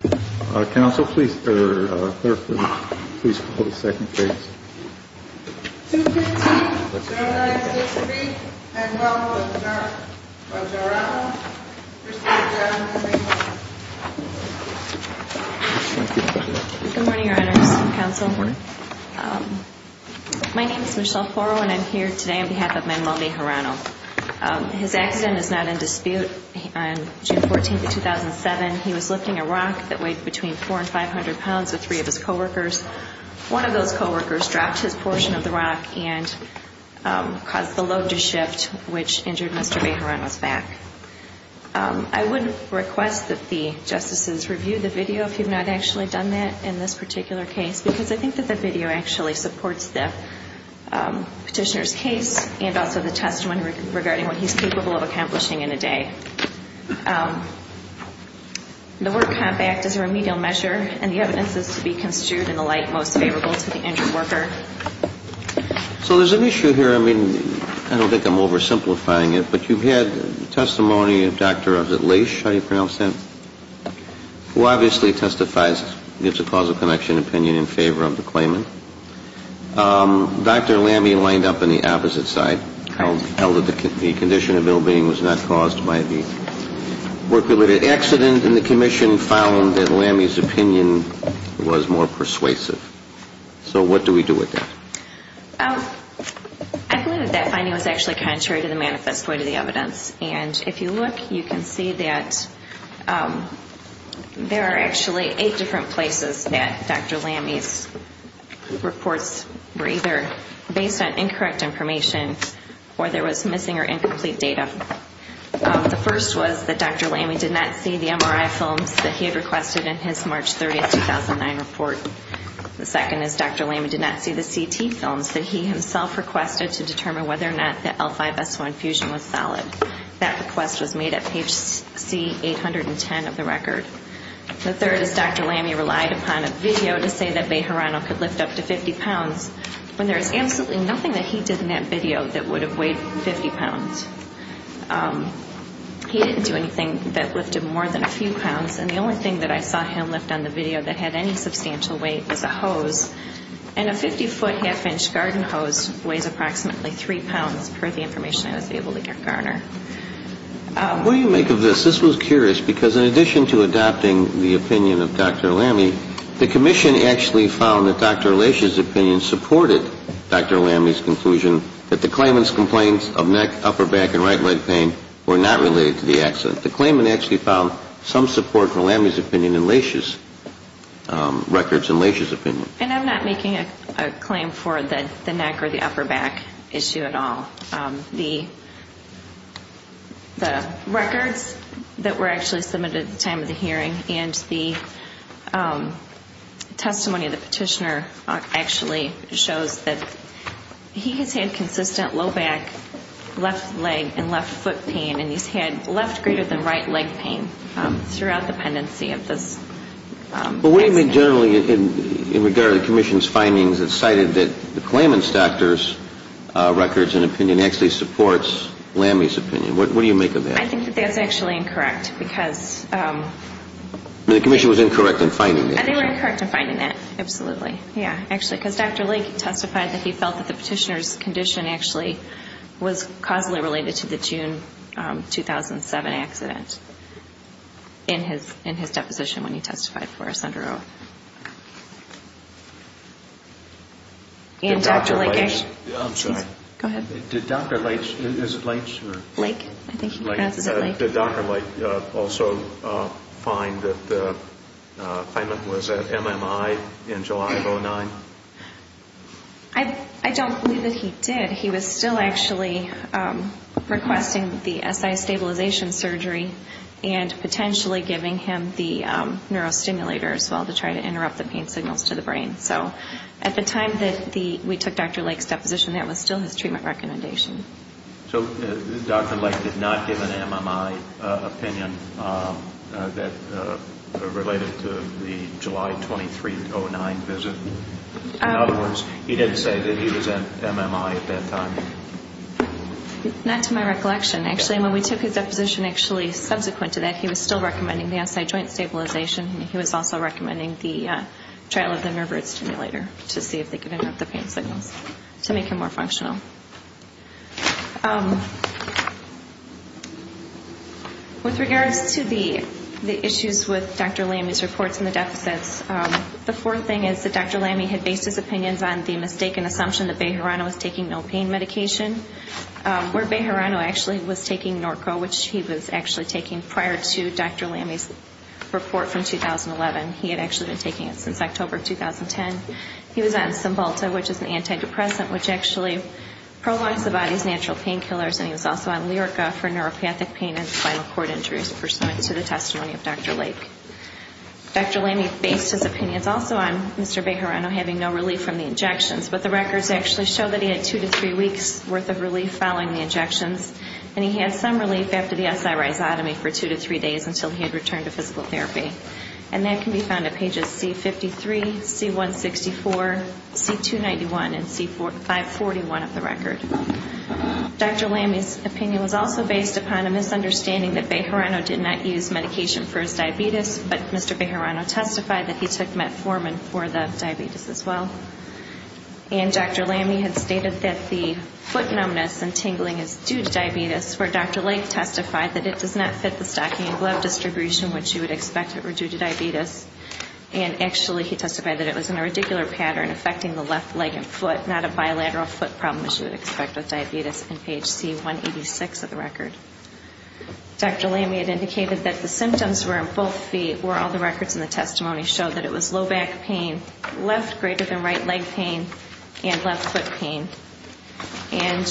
Good morning, Your Honors. Council. My name is Michelle Porro and I'm here today on behalf of Manuel Bejarano. His accident is not in dispute. On June 14, 2007, he was lifting a rock that weighed between 400 and 500 pounds with three of his co-workers. One of those co-workers dropped his portion of the rock and caused the load to shift, which injured Mr. Bejarano's back. I would request that the justices review the video if you've not actually done that in this particular case, because I think that the video actually supports the petitioner's case and also the testimony regarding what he's capable of accomplishing in a day. The work compact is a remedial measure and the evidence is to be construed in the light most favorable to the injured worker. So there's an issue here. I mean, I don't think I'm oversimplifying it, but you've had testimony of Dr. Lash, how do you pronounce that? Who obviously testifies, gives a causal connection opinion in favor of the claimant. Dr. Lamby lined up on the opposite side, held that the condition of ill-being was not caused by the work-related accident, and the commission found that Lamby's opinion was more persuasive. So what do we do with that? I believe that that finding was actually contrary to the manifest way to the evidence. And if you look, you can see that there are actually eight different places that Dr. Lamby's reports were either based on incorrect information or there was missing or incomplete data. The first was that Dr. Lamby did not see the MRI films that he had requested in his March 30, 2009 report. The second is Dr. Lamby did not see the CT films that he himself requested to determine whether or not the L5-S1 fusion was solid. That request was made at page C810 of the record. The third is Dr. Lamby relied upon a video to say that Bejarano could lift up to 50 pounds when there is absolutely nothing that he did in that video that would have weighed 50 pounds. He didn't do anything that lifted more than a few pounds. And the only thing that I saw him lift on the video that had any substantial weight was a hose. And a 50-foot, half-inch garden hose weighs approximately three pounds, per the information I was able to garner. What do you make of this? This was curious, because in addition to adopting the opinion of Dr. Lamby, the Commission actually found that Dr. Lachey's opinion supported Dr. Lamby's conclusion that the claimant's complaints of neck, upper back and right leg pain were not related to the accident. The claimant actually found some support for Lamby's opinion in Lachey's records and Lachey's opinion. And I'm not making a claim for the neck or the upper back issue at all. The records that the testimony of the petitioner actually shows that he has had consistent low back, left leg and left foot pain, and he's had left greater than right leg pain throughout the pendency of this accident. But what do you make generally in regard to the Commission's findings that cited that the claimant's doctor's records and opinion actually supports Lamby's opinion? What do you make of that? I think that that's actually incorrect, because... The Commission was incorrect in finding that. I think we're incorrect in finding that, absolutely. Yeah, actually, because Dr. Lachey testified that he felt that the petitioner's condition actually was causally related to the June 2007 accident in his deposition when he testified for us under oath. And Dr. Lachey... I'm sorry. Go ahead. Did Dr. Lachey... Is it Lachey or...? Lachey. I think he pronounced it Lachey. Did Dr. Lachey also find that the claimant was at MMI in July of 2009? I don't believe that he did. He was still actually requesting the SI stabilization surgery and potentially giving him the neurostimulator as well to try to interrupt the pain signals to the brain. So at the time that we took Dr. Lachey's deposition, that was still his treatment recommendation. So Dr. Lachey did not give an MMI opinion that related to the July 23, 2009 visit? In other words, he didn't say that he was at MMI at that time? Not to my recollection, actually. When we took his deposition, actually, subsequent to that, he was still recommending the SI joint stabilization, and he was also recommending the trial of the neurostimulator to see if they could interrupt the pain signals to make him more functional. With regards to the issues with Dr. Lamy's reports and the deficits, the fourth thing is that Dr. Lamy had based his opinions on the mistaken assumption that Bejarano was taking no pain medication, where Bejarano actually was taking Norco, which he was actually taking prior to Dr. Lamy's report from 2011. He had actually been taking it since October 2010. He was on Cymbalta, which is an antidepressant, which actually prolongs the body's natural painkillers, and he was also on Lyrica for neuropathic pain and spinal cord injuries pursuant to the testimony of Dr. Lachey. Dr. Lamy based his opinions also on Mr. Bejarano having no relief from the injections, but the records actually show that he had two to three weeks' worth of relief following the injections, and he had some relief after the SI rhizotomy for two to three days until he had returned to physical therapy. And that can be found at pages C-53, C-164, C-291, and C-541 of the record. Dr. Lamy's opinion was also based upon a misunderstanding that Bejarano did not use medication for his diabetes, but Mr. Bejarano testified that he took metformin for the diabetes as well. And Dr. Lamy had stated that the foot numbness and tingling is due to diabetes, where Dr. Lachey testified that it does not fit the stocking and glove distribution which you would expect it were due to diabetes, and actually he testified that it was in a radicular pattern affecting the left leg and foot, not a bilateral foot problem as you would expect with diabetes on page C-186 of the record. Dr. Lamy had indicated that the symptoms were on both feet where all the records in the testimony showed that it was low back pain, left greater than right leg pain, and left foot pain. And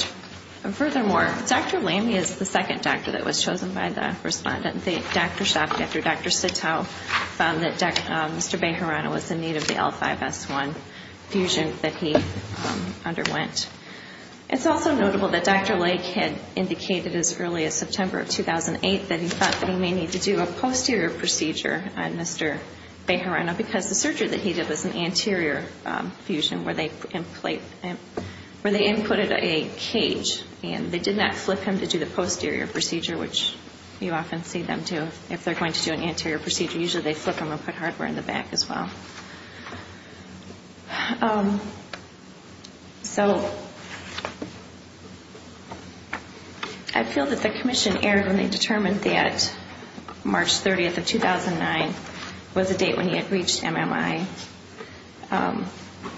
furthermore, Dr. Lamy is the second doctor that was chosen by the respondent. Dr. Schaaf after Dr. Sitow found that Mr. Bejarano was in need of the L5S1 fusion that he underwent. It's also notable that Dr. Lachey had indicated as early as September of 2008 that he thought that he may need to do a posterior procedure on Mr. Bejarano because the surgery that he did, where they inputted a cage and they did not flip him to do the posterior procedure, which you often see them do if they're going to do an anterior procedure. Usually they flip him and put hardware in the back as well. So, I feel that the commission erred when they determined that March 30th of 2009 was a date when he had reached MMI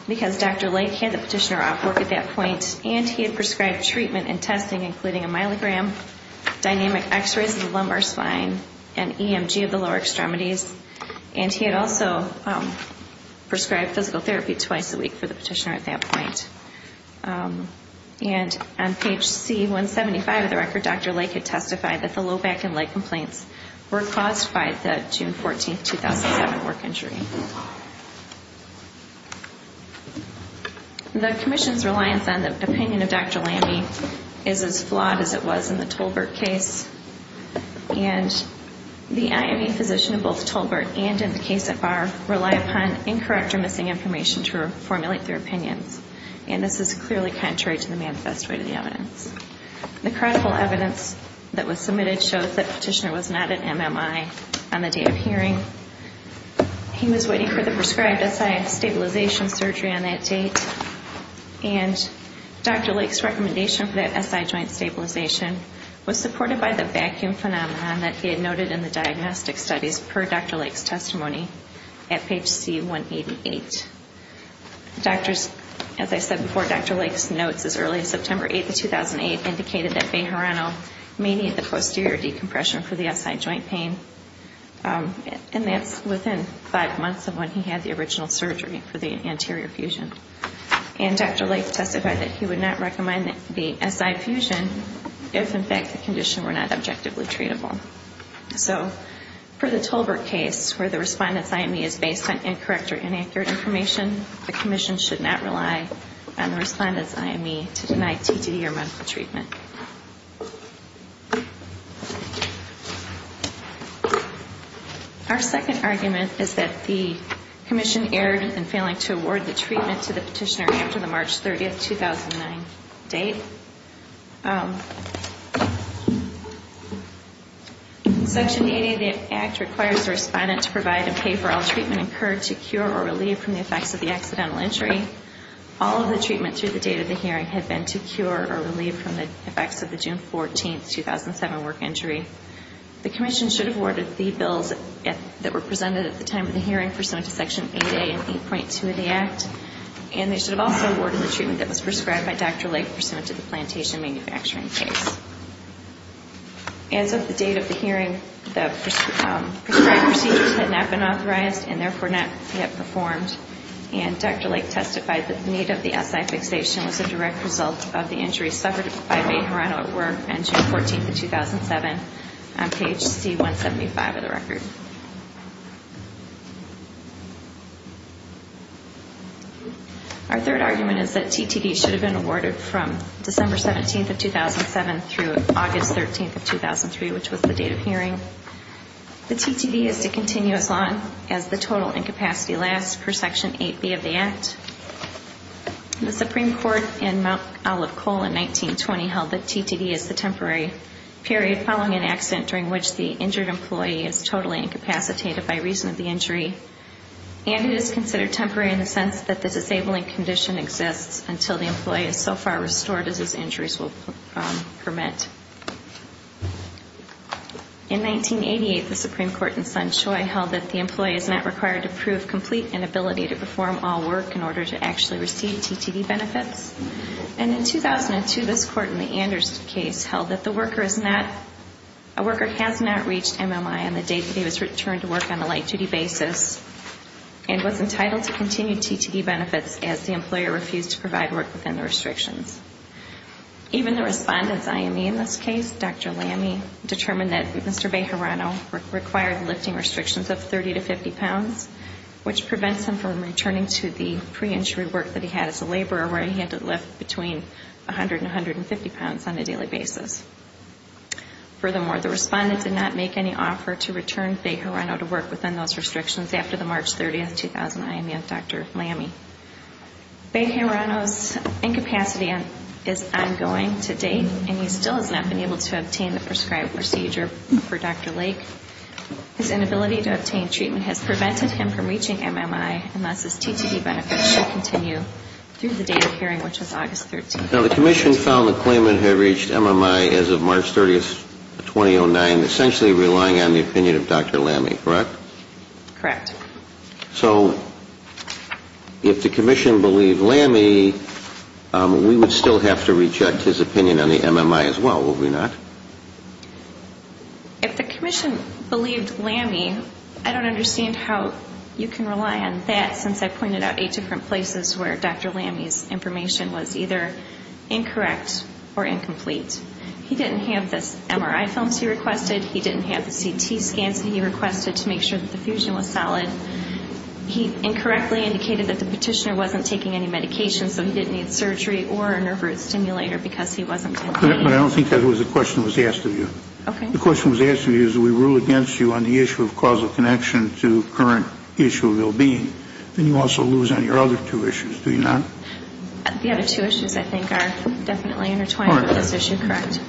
because Dr. Lachey had the petitioner off work at that point and he had prescribed treatment and testing including a myelogram, dynamic x-rays of the lumbar spine, and EMG of the lower extremities. And he had also prescribed physical therapy twice a week for the petitioner at that point. And on page C175 of the record, Dr. Lachey had testified that the low back and leg complaints were caused by the June 14th, 2007 work injury. The commission's reliance on the opinion of Dr. Lachey is as flawed as it was in the Tolbert case. And the IME physician in both Tolbert and in the case at bar rely upon incorrect or missing information to formulate their opinions. And this is clearly contrary to the manifest way of the evidence. The credible evidence that was submitted shows that the petitioner was not at MMI on the day of hearing. He was waiting for the prescribed SI stabilization surgery on that date. And Dr. Lachey's recommendation for that SI joint stabilization was supported by the vacuum phenomenon that he had noted in the diagnostic studies per Dr. Lachey's testimony at page C188. As I said before, Dr. Lachey's notes as early as September 8th, 2008 indicated that Bejarano may need the posterior decompression for the SI joint pain. And that's within five months of when he had the original surgery for the anterior fusion. And Dr. Lachey testified that he would not recommend the SI fusion if in fact the condition were not objectively treatable. So for the Tolbert case where the respondent's IME is based on incorrect or inaccurate information, the commission should not rely on the respondent's IME to deny TTD or medical treatment. Our second argument is that the commission erred in failing to award the treatment to the petitioner after the March 30th, 2009 date. Section 80 of the Act requires the respondent to provide a pay-for-all treatment incurred to cure or relieve from the effects of the accidental injury. All of the treatment through the date of the hearing had been to cure or relieve from the effects of the June 14th, 2007 work injury. The commission should have awarded the bills that were presented at the time of the hearing pursuant to Section 8A and 8.2 of the Act. And they should have also awarded the treatment that was prescribed by Dr. Lachey pursuant to the plantation manufacturing case. As of the date of the hearing, the prescribed procedures had not been authorized and therefore not yet performed. And Dr. Lachey testified that the need of the SI fixation was a direct result of the injury suffered by Bay Hirono at work on June 14th, 2007 on page C-175 of the record. Our third argument is that TTD should have been awarded from December 17th, 2007 through August 13th, 2003, which was the date of hearing. The TTD is to continue as long as the total incapacity lasts per Section 8B of the Act. The Supreme Court in Mount Olive Coal in 1920 held that TTD is the temporary period following an accident during which the injured employee is totally incapacitated by reason of the injury and it is considered temporary in the sense that the disabling condition exists until the employee is so far restored as his injuries will permit. In 1988, the Supreme Court in Sunshine held that the employee is not required to prove complete inability to perform all work in order to actually receive TTD benefits. And in 2002, this Court in the Anders case held that the worker has not reached MMI on the date he was returned to work on a light-duty basis and was entitled to continue TTD benefits as the employer refused to provide work within the restrictions. Even the Respondent's IME in this case, Dr. Lamey, determined that Mr. Bay Hirono required lifting restrictions of 30 to 50 pounds, which prevents him from returning to the pre-injury work that he had as a laborer where he had to lift between 100 and 150 pounds on a daily basis. Furthermore, the Respondent did not make any offer to return Bay Hirono to work within those restrictions after the March 30, 2009, IME of Dr. Lamey. Bay Hirono's incapacity is ongoing to date and he still has not been able to obtain the prescribed procedure for Dr. Lake. His inability to obtain treatment has prevented him from reaching MMI unless his TTD benefits should continue through the date of hearing, which was August 13, 2009. Now, the Commission found the claimant had reached MMI as of March 30, 2009, essentially relying on the opinion of Dr. Lamey, correct? Correct. So, if the Commission believed Lamey, we would still have to reject his opinion on the MMI as well, would we not? If the Commission believed Lamey, I don't understand how you can rely on that since I pointed out eight different places where Dr. Lamey's information was either incorrect or incomplete. He didn't have the MRI films he requested, he didn't have the CT scans he requested to make sure that the fusion was solid. He incorrectly indicated that the petitioner wasn't taking any medication, so he didn't need surgery or a nerve root stimulator because he was taking the medication. So, if the Commission believed Lamey, Well, I think the question was asked of you. Okay. The question was asked of you is we rule against you on the issue of causal connection to current issue of well-being, then you also lose on your other two issues, do you not? The other two issues, I think, are definitely intertwined with this issue, correct.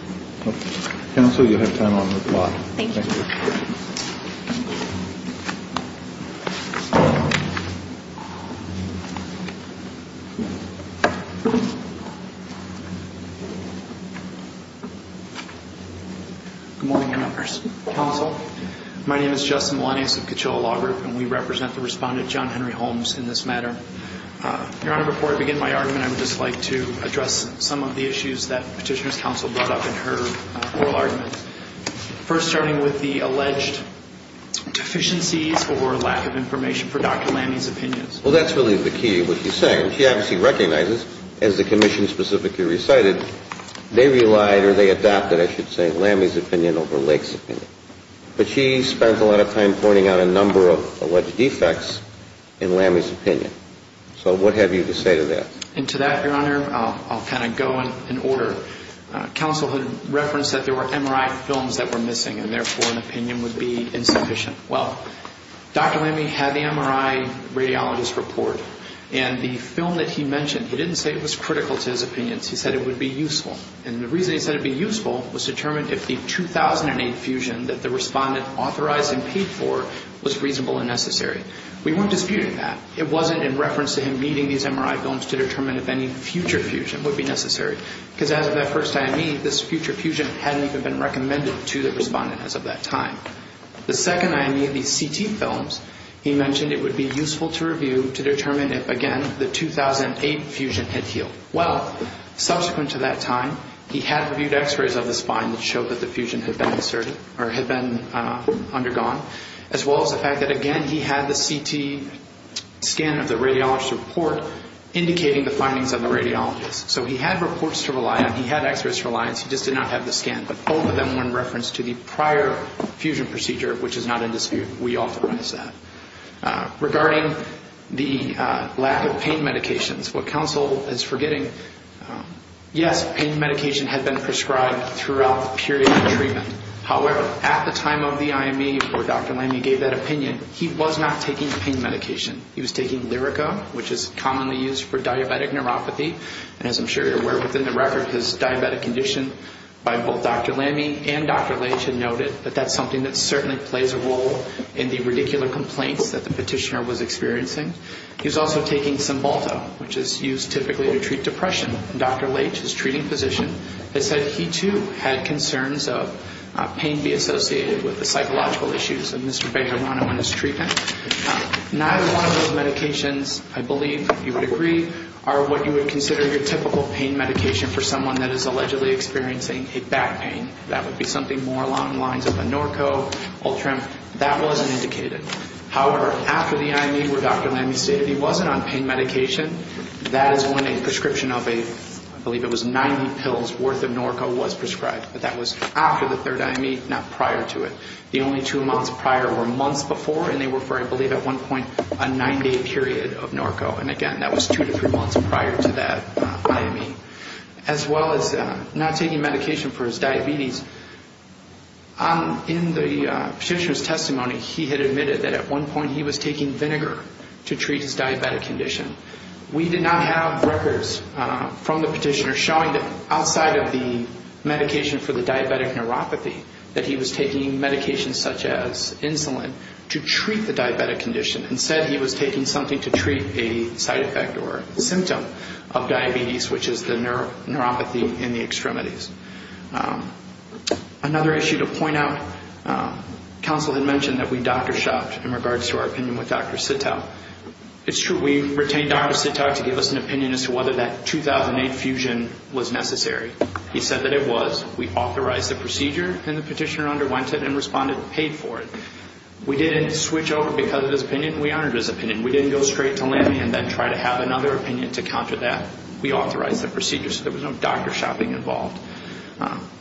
Okay. Counsel, you'll have time on the floor. Thank you. Good morning, members. Counsel, my name is Justin Melanious of Coachella Law Group, and we represent the Respondent, John Henry Holmes, in this matter. Your Honor, before I begin my argument, I would just like to address some of the issues that Petitioner's Counsel brought up in her oral argument. First, starting with the alleged deficiencies or lack of information for Dr. Lamey's opinions. Well, that's really the key of what you're saying. She obviously recognizes as the Commission specifically recited, they relied or they adopted, I should say, Lamey's opinion over Lake's opinion. But she spent a lot of time pointing out a number of alleged defects in Lamey's opinion. So, what have you to say to that? And to that, Your Honor, I'll kind of go in order. Counsel had referenced that there were deficiencies in Lamey's opinion would be insufficient. Well, Dr. Lamey had the MRI radiologist report. And the film that he mentioned, he didn't say it was critical to his opinions. He said it would be useful. And the reason he said it would be useful was to determine if the 2008 fusion that the Respondent authorized and paid for was reasonable and necessary. We weren't disputing that. It wasn't in reference to him needing these MRI films to determine if any future fusion would be necessary. Because as of that first IME, this future fusion hadn't even been recommended to the Respondent as of that time. The second IME, the CT films, he mentioned it would be useful to review to determine if, again, the 2008 fusion had healed. Well, subsequent to that time, he had reviewed x-rays of the spine that showed that the fusion had been inserted or had been undergone, as well as the fact that, again, he had the CT scan of the radiologist report indicating the findings of the radiologist. So he had reports to rely on. He had x-rays for reliance. He just did not have the scan. But both of them were in reference to the prior fusion procedure, which is not in dispute. We authorize that. Regarding the lack of pain medications, what counsel is forgetting, yes, pain medication had been prescribed throughout the period of treatment. However, at the time of the IME where Dr. Lamy gave that opinion, he was not taking pain medication. He was taking Lyrica, which is commonly used for diabetic neuropathy. And as I'm sure you're aware, within the record, his diabetic condition by both Dr. Lamy and Dr. Leitch had noted that that's something that certainly plays a role in the radicular complaints that the petitioner was experiencing. He was also taking Cymbalta, which is used typically to treat depression. And Dr. Leitch, his treating physician, had said he, too, had concerns of pain being associated with the psychological issues of Mr. Bejarano and his treatment. Neither one of those medications, I believe you would agree, are what you would consider your typical pain medication for someone that is allegedly experiencing a back pain. That would be something more along the lines of a Norco, Ultram, that wasn't indicated. However, after the IME where Dr. Lamy stated he wasn't on pain medication, that is when a prescription of a, I believe it was 90 pills worth of Norco was prescribed. But that was after the third IME, not prior to it. The only two months prior were months before, and they were for, I believe at one point, a 90-day period of Norco. And again, that was two to three months prior to that IME. As well as not taking medication for his diabetes, in the petitioner's testimony, he had admitted that at one point he was taking vinegar to treat his diabetic condition. We did not have records from the petitioner showing that outside of the medication for the diabetic neuropathy, that he was taking medication such as insulin to treat the diabetic condition. Instead, he was taking something to treat a side effect or symptom of diabetes, which is the neuropathy in the extremities. Another issue to point out, counsel had mentioned that we doctor shopped in regards to our opinion with Dr. Sittow. It's true we retained Dr. Sittow to give us an opinion as to whether that 2008 fusion was necessary. He said that it was. We authorized the procedure, and the petitioner underwent it and responded and paid for it. We didn't switch over because of his opinion. We honored his opinion. We didn't go straight to Lamy and then try to have another opinion to counter that. We authorized the procedure, so there was no doctor shopping involved.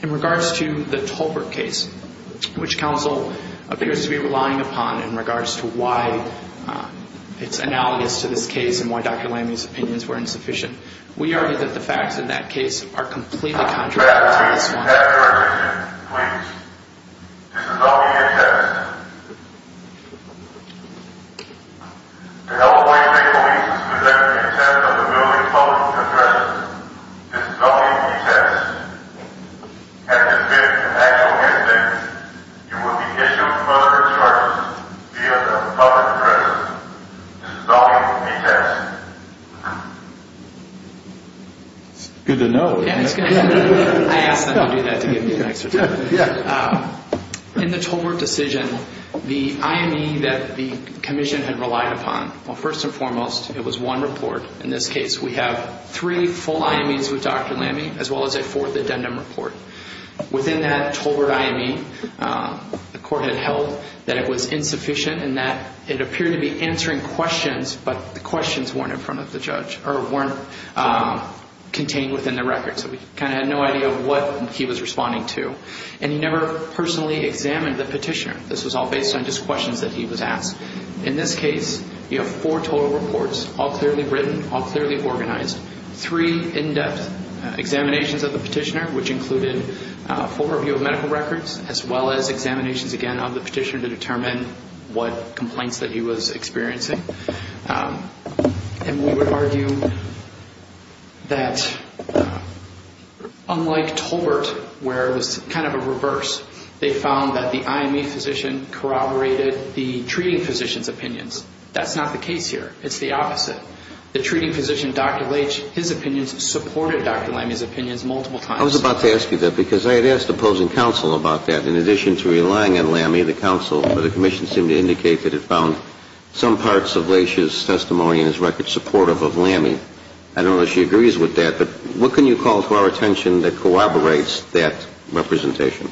In regards to the Tolbert case, which counsel appears to be relying upon in regards to why it's analogous to this case and why Dr. Lamy's opinions were insufficient, we argue that the facts in that case are completely contrary to what the witness wanted. I have a recommendation. Please. This is only a test. To help Hawaii State Police to detect the intent of the building's public address, this is only a test. If this is an actual incident, you will be issued further charges via the public address. This is only a test. It's good to know. In the Tolbert decision, the IME that the commission had relied upon, well, first and foremost, it was one report. In this case, we have three full IMEs with Dr. Lamy, as well as a fourth addendum report. Within that Tolbert IME, the court had held that it was insufficient and that it appeared to be answering questions, but the questions weren't in front of the judge, or weren't contained within the record. So we kind of had no idea what he was responding to. And he never personally examined the petitioner. This was all based on just questions that he was asked. In this case, you have four total reports, all clearly written, all clearly organized. Three in-depth examinations of the petitioner, which included a full review of medical records, as well as examinations, again, of the petitioner to determine what complaints that he was experiencing. And we would argue that unlike Tolbert, where it was kind of a reverse, they found that the IME physician corroborated the treating physician's opinions. That's not the case here. It's the opposite. The treating physician, Dr. Leitch, his opinions supported Dr. Lamy's opinions multiple times. I was about to ask you that, because I had asked opposing counsel about that. In addition to relying on Lamy, the counsel for the commission seemed to indicate that it found some parts of Leitch's testimony in his record supportive of Lamy. I don't know that she agrees with that, but what can you call to our attention that corroborates that representation?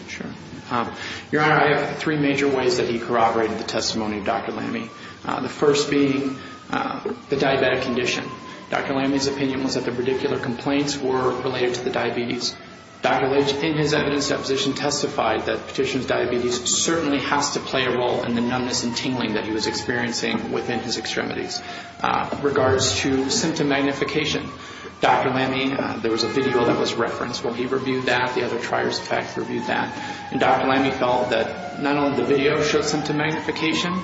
Your Honor, I have three major ways that he corroborated the testimony of Dr. Lamy. The first being the diabetic condition. Dr. Lamy's opinion was that the particular complaints were related to the diabetes. Dr. Leitch, in his evidence deposition, testified that the petitioner's diabetes certainly has to play a role in the numbness and tingling that he was experiencing within his extremities. In regards to symptom magnification, Dr. Lamy, there was a video that was referenced where he reviewed that. The other triers, in fact, reviewed that. And Dr. Lamy felt that not only the video showed symptom magnification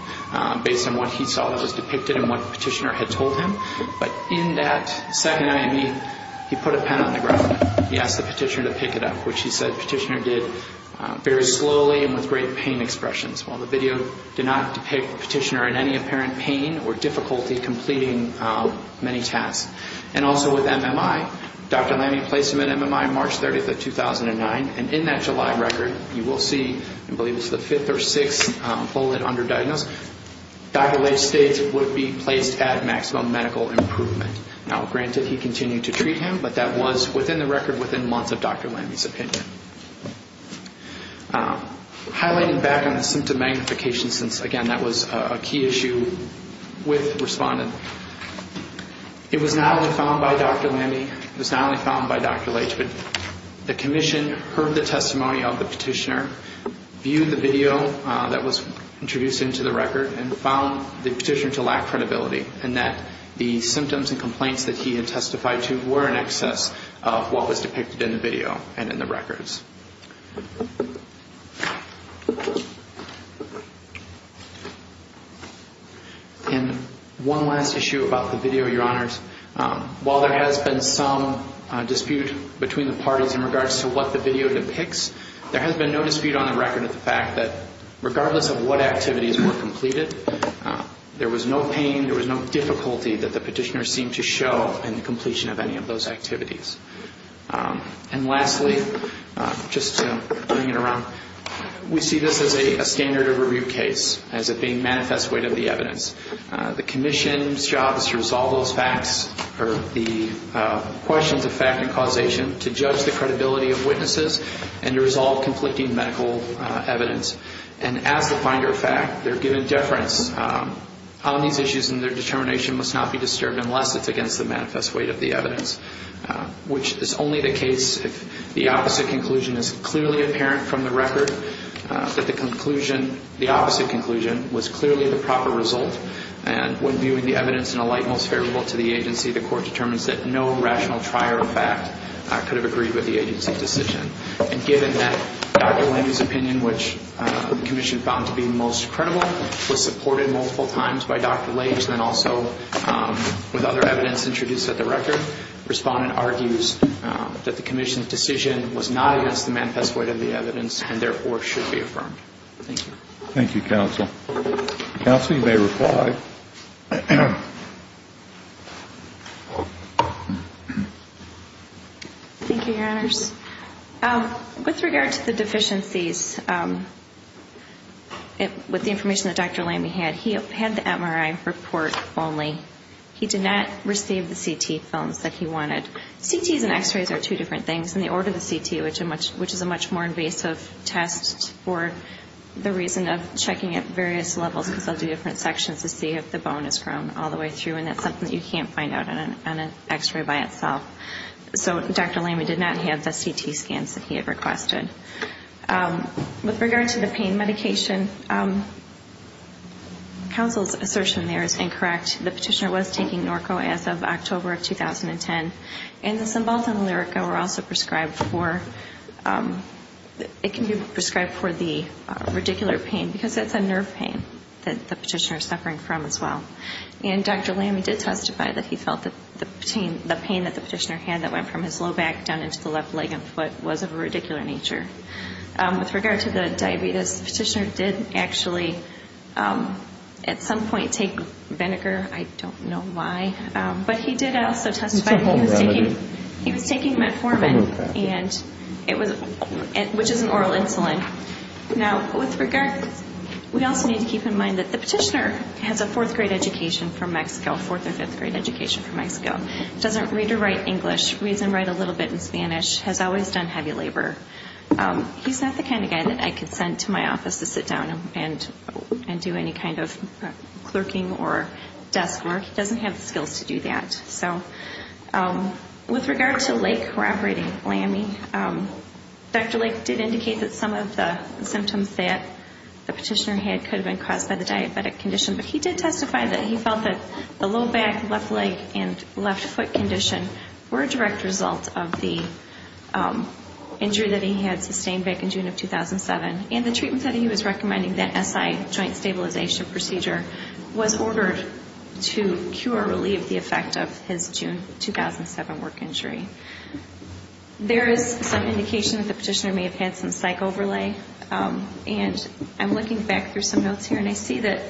based on what he saw that was depicted and what the petitioner had told him, but in that second IME, he put a pen on the ground. He asked the petitioner to pick it up, which he said the petitioner did very slowly and with great pain expressions. While the video did not depict the petitioner in any apparent pain or difficulty completing many tasks. And also with MMI, Dr. Lamy placed him in MMI March 30, 2009. And in that July record, you will see I believe it's the fifth or sixth bullet underdiagnosed, Dr. Leitch states would be placed at maximum medical improvement. Now, granted, he continued to treat him, but that was within the record within months of Dr. Lamy. Highlighting back on the symptom magnification since, again, that was a key issue with respondent. It was not only found by Dr. Lamy, it was not only found by Dr. Leitch, but the commission heard the testimony of the petitioner, viewed the video that was introduced into the record, and found the petitioner to lack credibility in that the symptoms and complaints that he had testified to were in excess of what was depicted in the video and in the records. And one last issue about the video, Your Honors. While there has been some dispute between the parties in regards to what the video depicts, there has been no dispute on the record of the fact that regardless of what activities were completed, there was no pain, there was no difficulty that the petitioner seemed to show in the completion of any of those activities. And lastly, just to bring it around, we see this as a standard of review case, as it being manifest weight of the evidence. The commission's job is to resolve those facts, or the questions of fact and causation, to judge the credibility of witnesses and to resolve conflicting medical evidence. And as the finder of fact, they're given deference on these issues and their determination must not be disturbed unless it's against the manifest weight of the evidence, which is only the case if the opposite conclusion is clearly apparent from the record, that the conclusion the opposite conclusion was clearly the proper result. And when viewing the evidence in a light most favorable to the agency, the court determines that no rational trier of fact could have agreed with the agency's decision. And given that Dr. Lange's opinion, which the commission found to be most credible, was supported multiple times by Dr. Lange and also with other evidence introduced at the record, the respondent argues that the commission's decision was not against the manifest weight of the evidence and therefore should be affirmed. Thank you. Thank you, counsel. Counsel, you may reply. Thank you, Your Honors. With regard to the deficiencies, with the information that Dr. Lange had, he had the MRI report only. He did not receive the CT films that he wanted. CTs and x-rays are two different things. In the order of the CT, which is a much more invasive test for the reason of checking at various levels, because they'll do different sections to see if the bone has grown all the way through, and that's something that you can't find out on an x-ray by itself. So Dr. Lange did not have the CT scans that he had requested. With regard to the pain medication, counsel's assertion there is incorrect. The petitioner was taking Norco as of October of 2010, and the Cymbalta and Lyrica were also prescribed for the radicular pain, because it's a nerve pain that the petitioner is suffering from as well. And Dr. Lange did testify that he felt that the pain that the petitioner had that went from his low back down into the left leg and foot was of a radicular nature. With regard to the diabetes, the petitioner did actually at some point take vinegar. I don't know why, but he did also testify that he was taking metformin, which is an oral insulin. Now, with regard, we also need to keep in mind that the petitioner has a fourth grade education from Mexico, fourth or fifth grade education from Mexico, doesn't read or write English, reads and write a little bit in Spanish, has always done heavy labor. He's not the kind of guy that I could send to my office to sit down and do any kind of clerking or desk work. He doesn't have the skills to do that. With regard to Lake corroborating LAMI, Dr. Lake did indicate that some of the symptoms that the petitioner had could have been caused by the diabetic condition, but he did testify that he felt that the low back, left leg, and left foot condition were a direct result of the injury that he had sustained back in June of 2007, and the treatment that he was recommending, that SI, joint stabilization procedure, was ordered to cure or relieve the effect of his June 2007 work injury. There is some indication that the petitioner may have had some psych overlay, and I'm looking back through some notes here, and I see that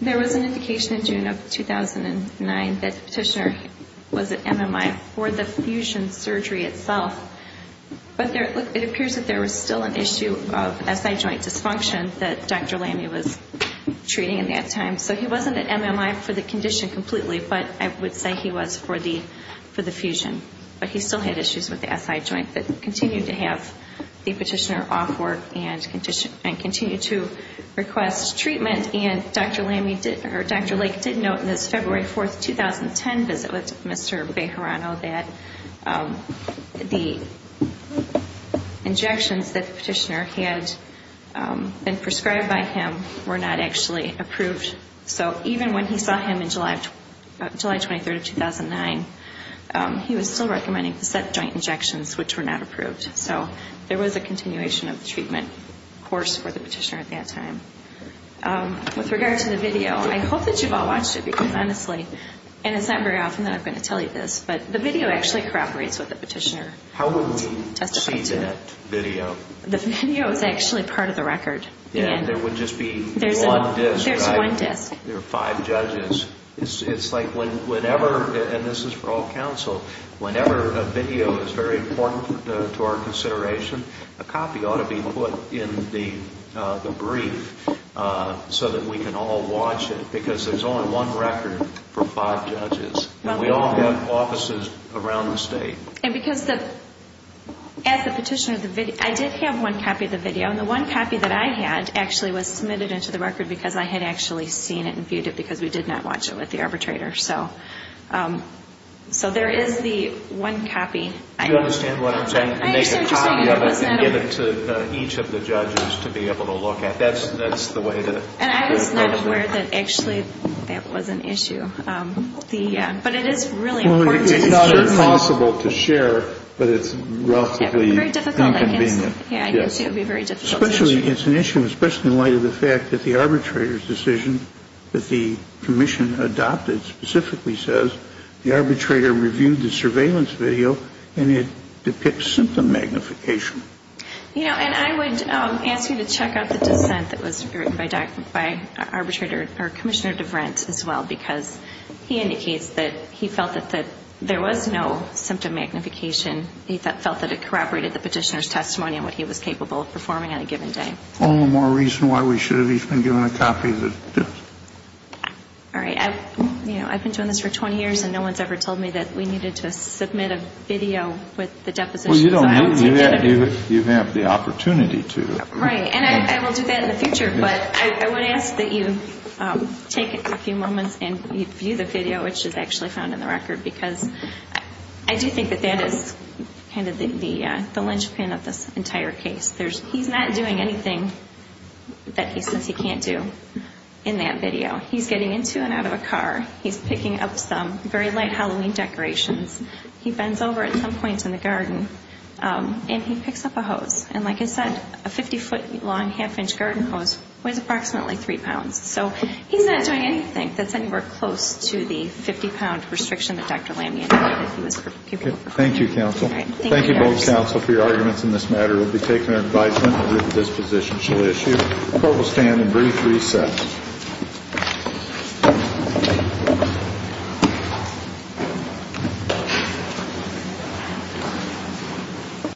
there was an indication in June of 2009 that the condition was for the fusion surgery itself, but it appears that there was still an issue of SI joint dysfunction that Dr. LAMI was treating at that time, so he wasn't at MMI for the condition completely, but I would say he was for the fusion. But he still had issues with the SI joint, but continued to have the petitioner off work and continued to request treatment, and Dr. Lake did note in his February 4, 2010 visit with Mr. Bejarano that the injections that the petitioner had been prescribed by him were not actually approved, so even when he saw him on July 23, 2009, he was still recommending the SI joint injections, which were not approved, so there was a continuation of the treatment course for the petitioner at that time. With regard to the video, I hope that you've all watched it, because honestly, and it's not very often that I'm going to tell you this, but the video actually corroborates what the petitioner testified to. The video is actually part of the record. There's one disc. There are five judges. It's like whenever, and this is for all counsel, whenever a video is very important to our consideration, a copy ought to be put in the brief so that we can all have the record for five judges, and we all have offices around the state. And because the, as the petitioner, I did have one copy of the video, and the one copy that I had actually was submitted into the record because I had actually seen it and viewed it because we did not watch it with the arbitrator, so there is the one copy. Do you understand what I'm saying? Make a copy of it and give it to each of the judges to be able to look at. That's the way to do it. It's not impossible to share, but it's relatively inconvenient. It's an issue especially in light of the fact that the arbitrator's decision that the commission adopted specifically says the arbitrator reviewed the surveillance video, and it depicts symptom magnification. You know, and I would ask you to check out the dissent that was written by Commissioner DeVrent as well, because he indicates that he felt that there was no symptom magnification. He felt that it corroborated the petitioner's testimony on what he was capable of performing on a given day. All right. I've been doing this for 20 years, and no one's ever told me that we needed to submit a video with the depositions. Well, you don't need to do that if you have the opportunity to. Right. And I will do that in the future, but I would ask that you take a few moments and view the video, which is actually found in the record, because I do think that that is kind of the linchpin of this entire case. He's not doing anything that he says he can't do in that video. He's getting into and out of a car. He's picking up some very light Halloween decorations. He bends over at some points in the garden, and he picks up a hose. And like I said, a 50-foot-long, half-inch garden hose weighs approximately three pounds. So he's not doing anything that's anywhere close to the 50-pound restriction that Dr. Lamy indicated he was capable of. Thank you, counsel. Thank you both, counsel, for your arguments in this matter. We'll be taking our advisement that this position shall issue. Court will stand in brief reset. Thank you.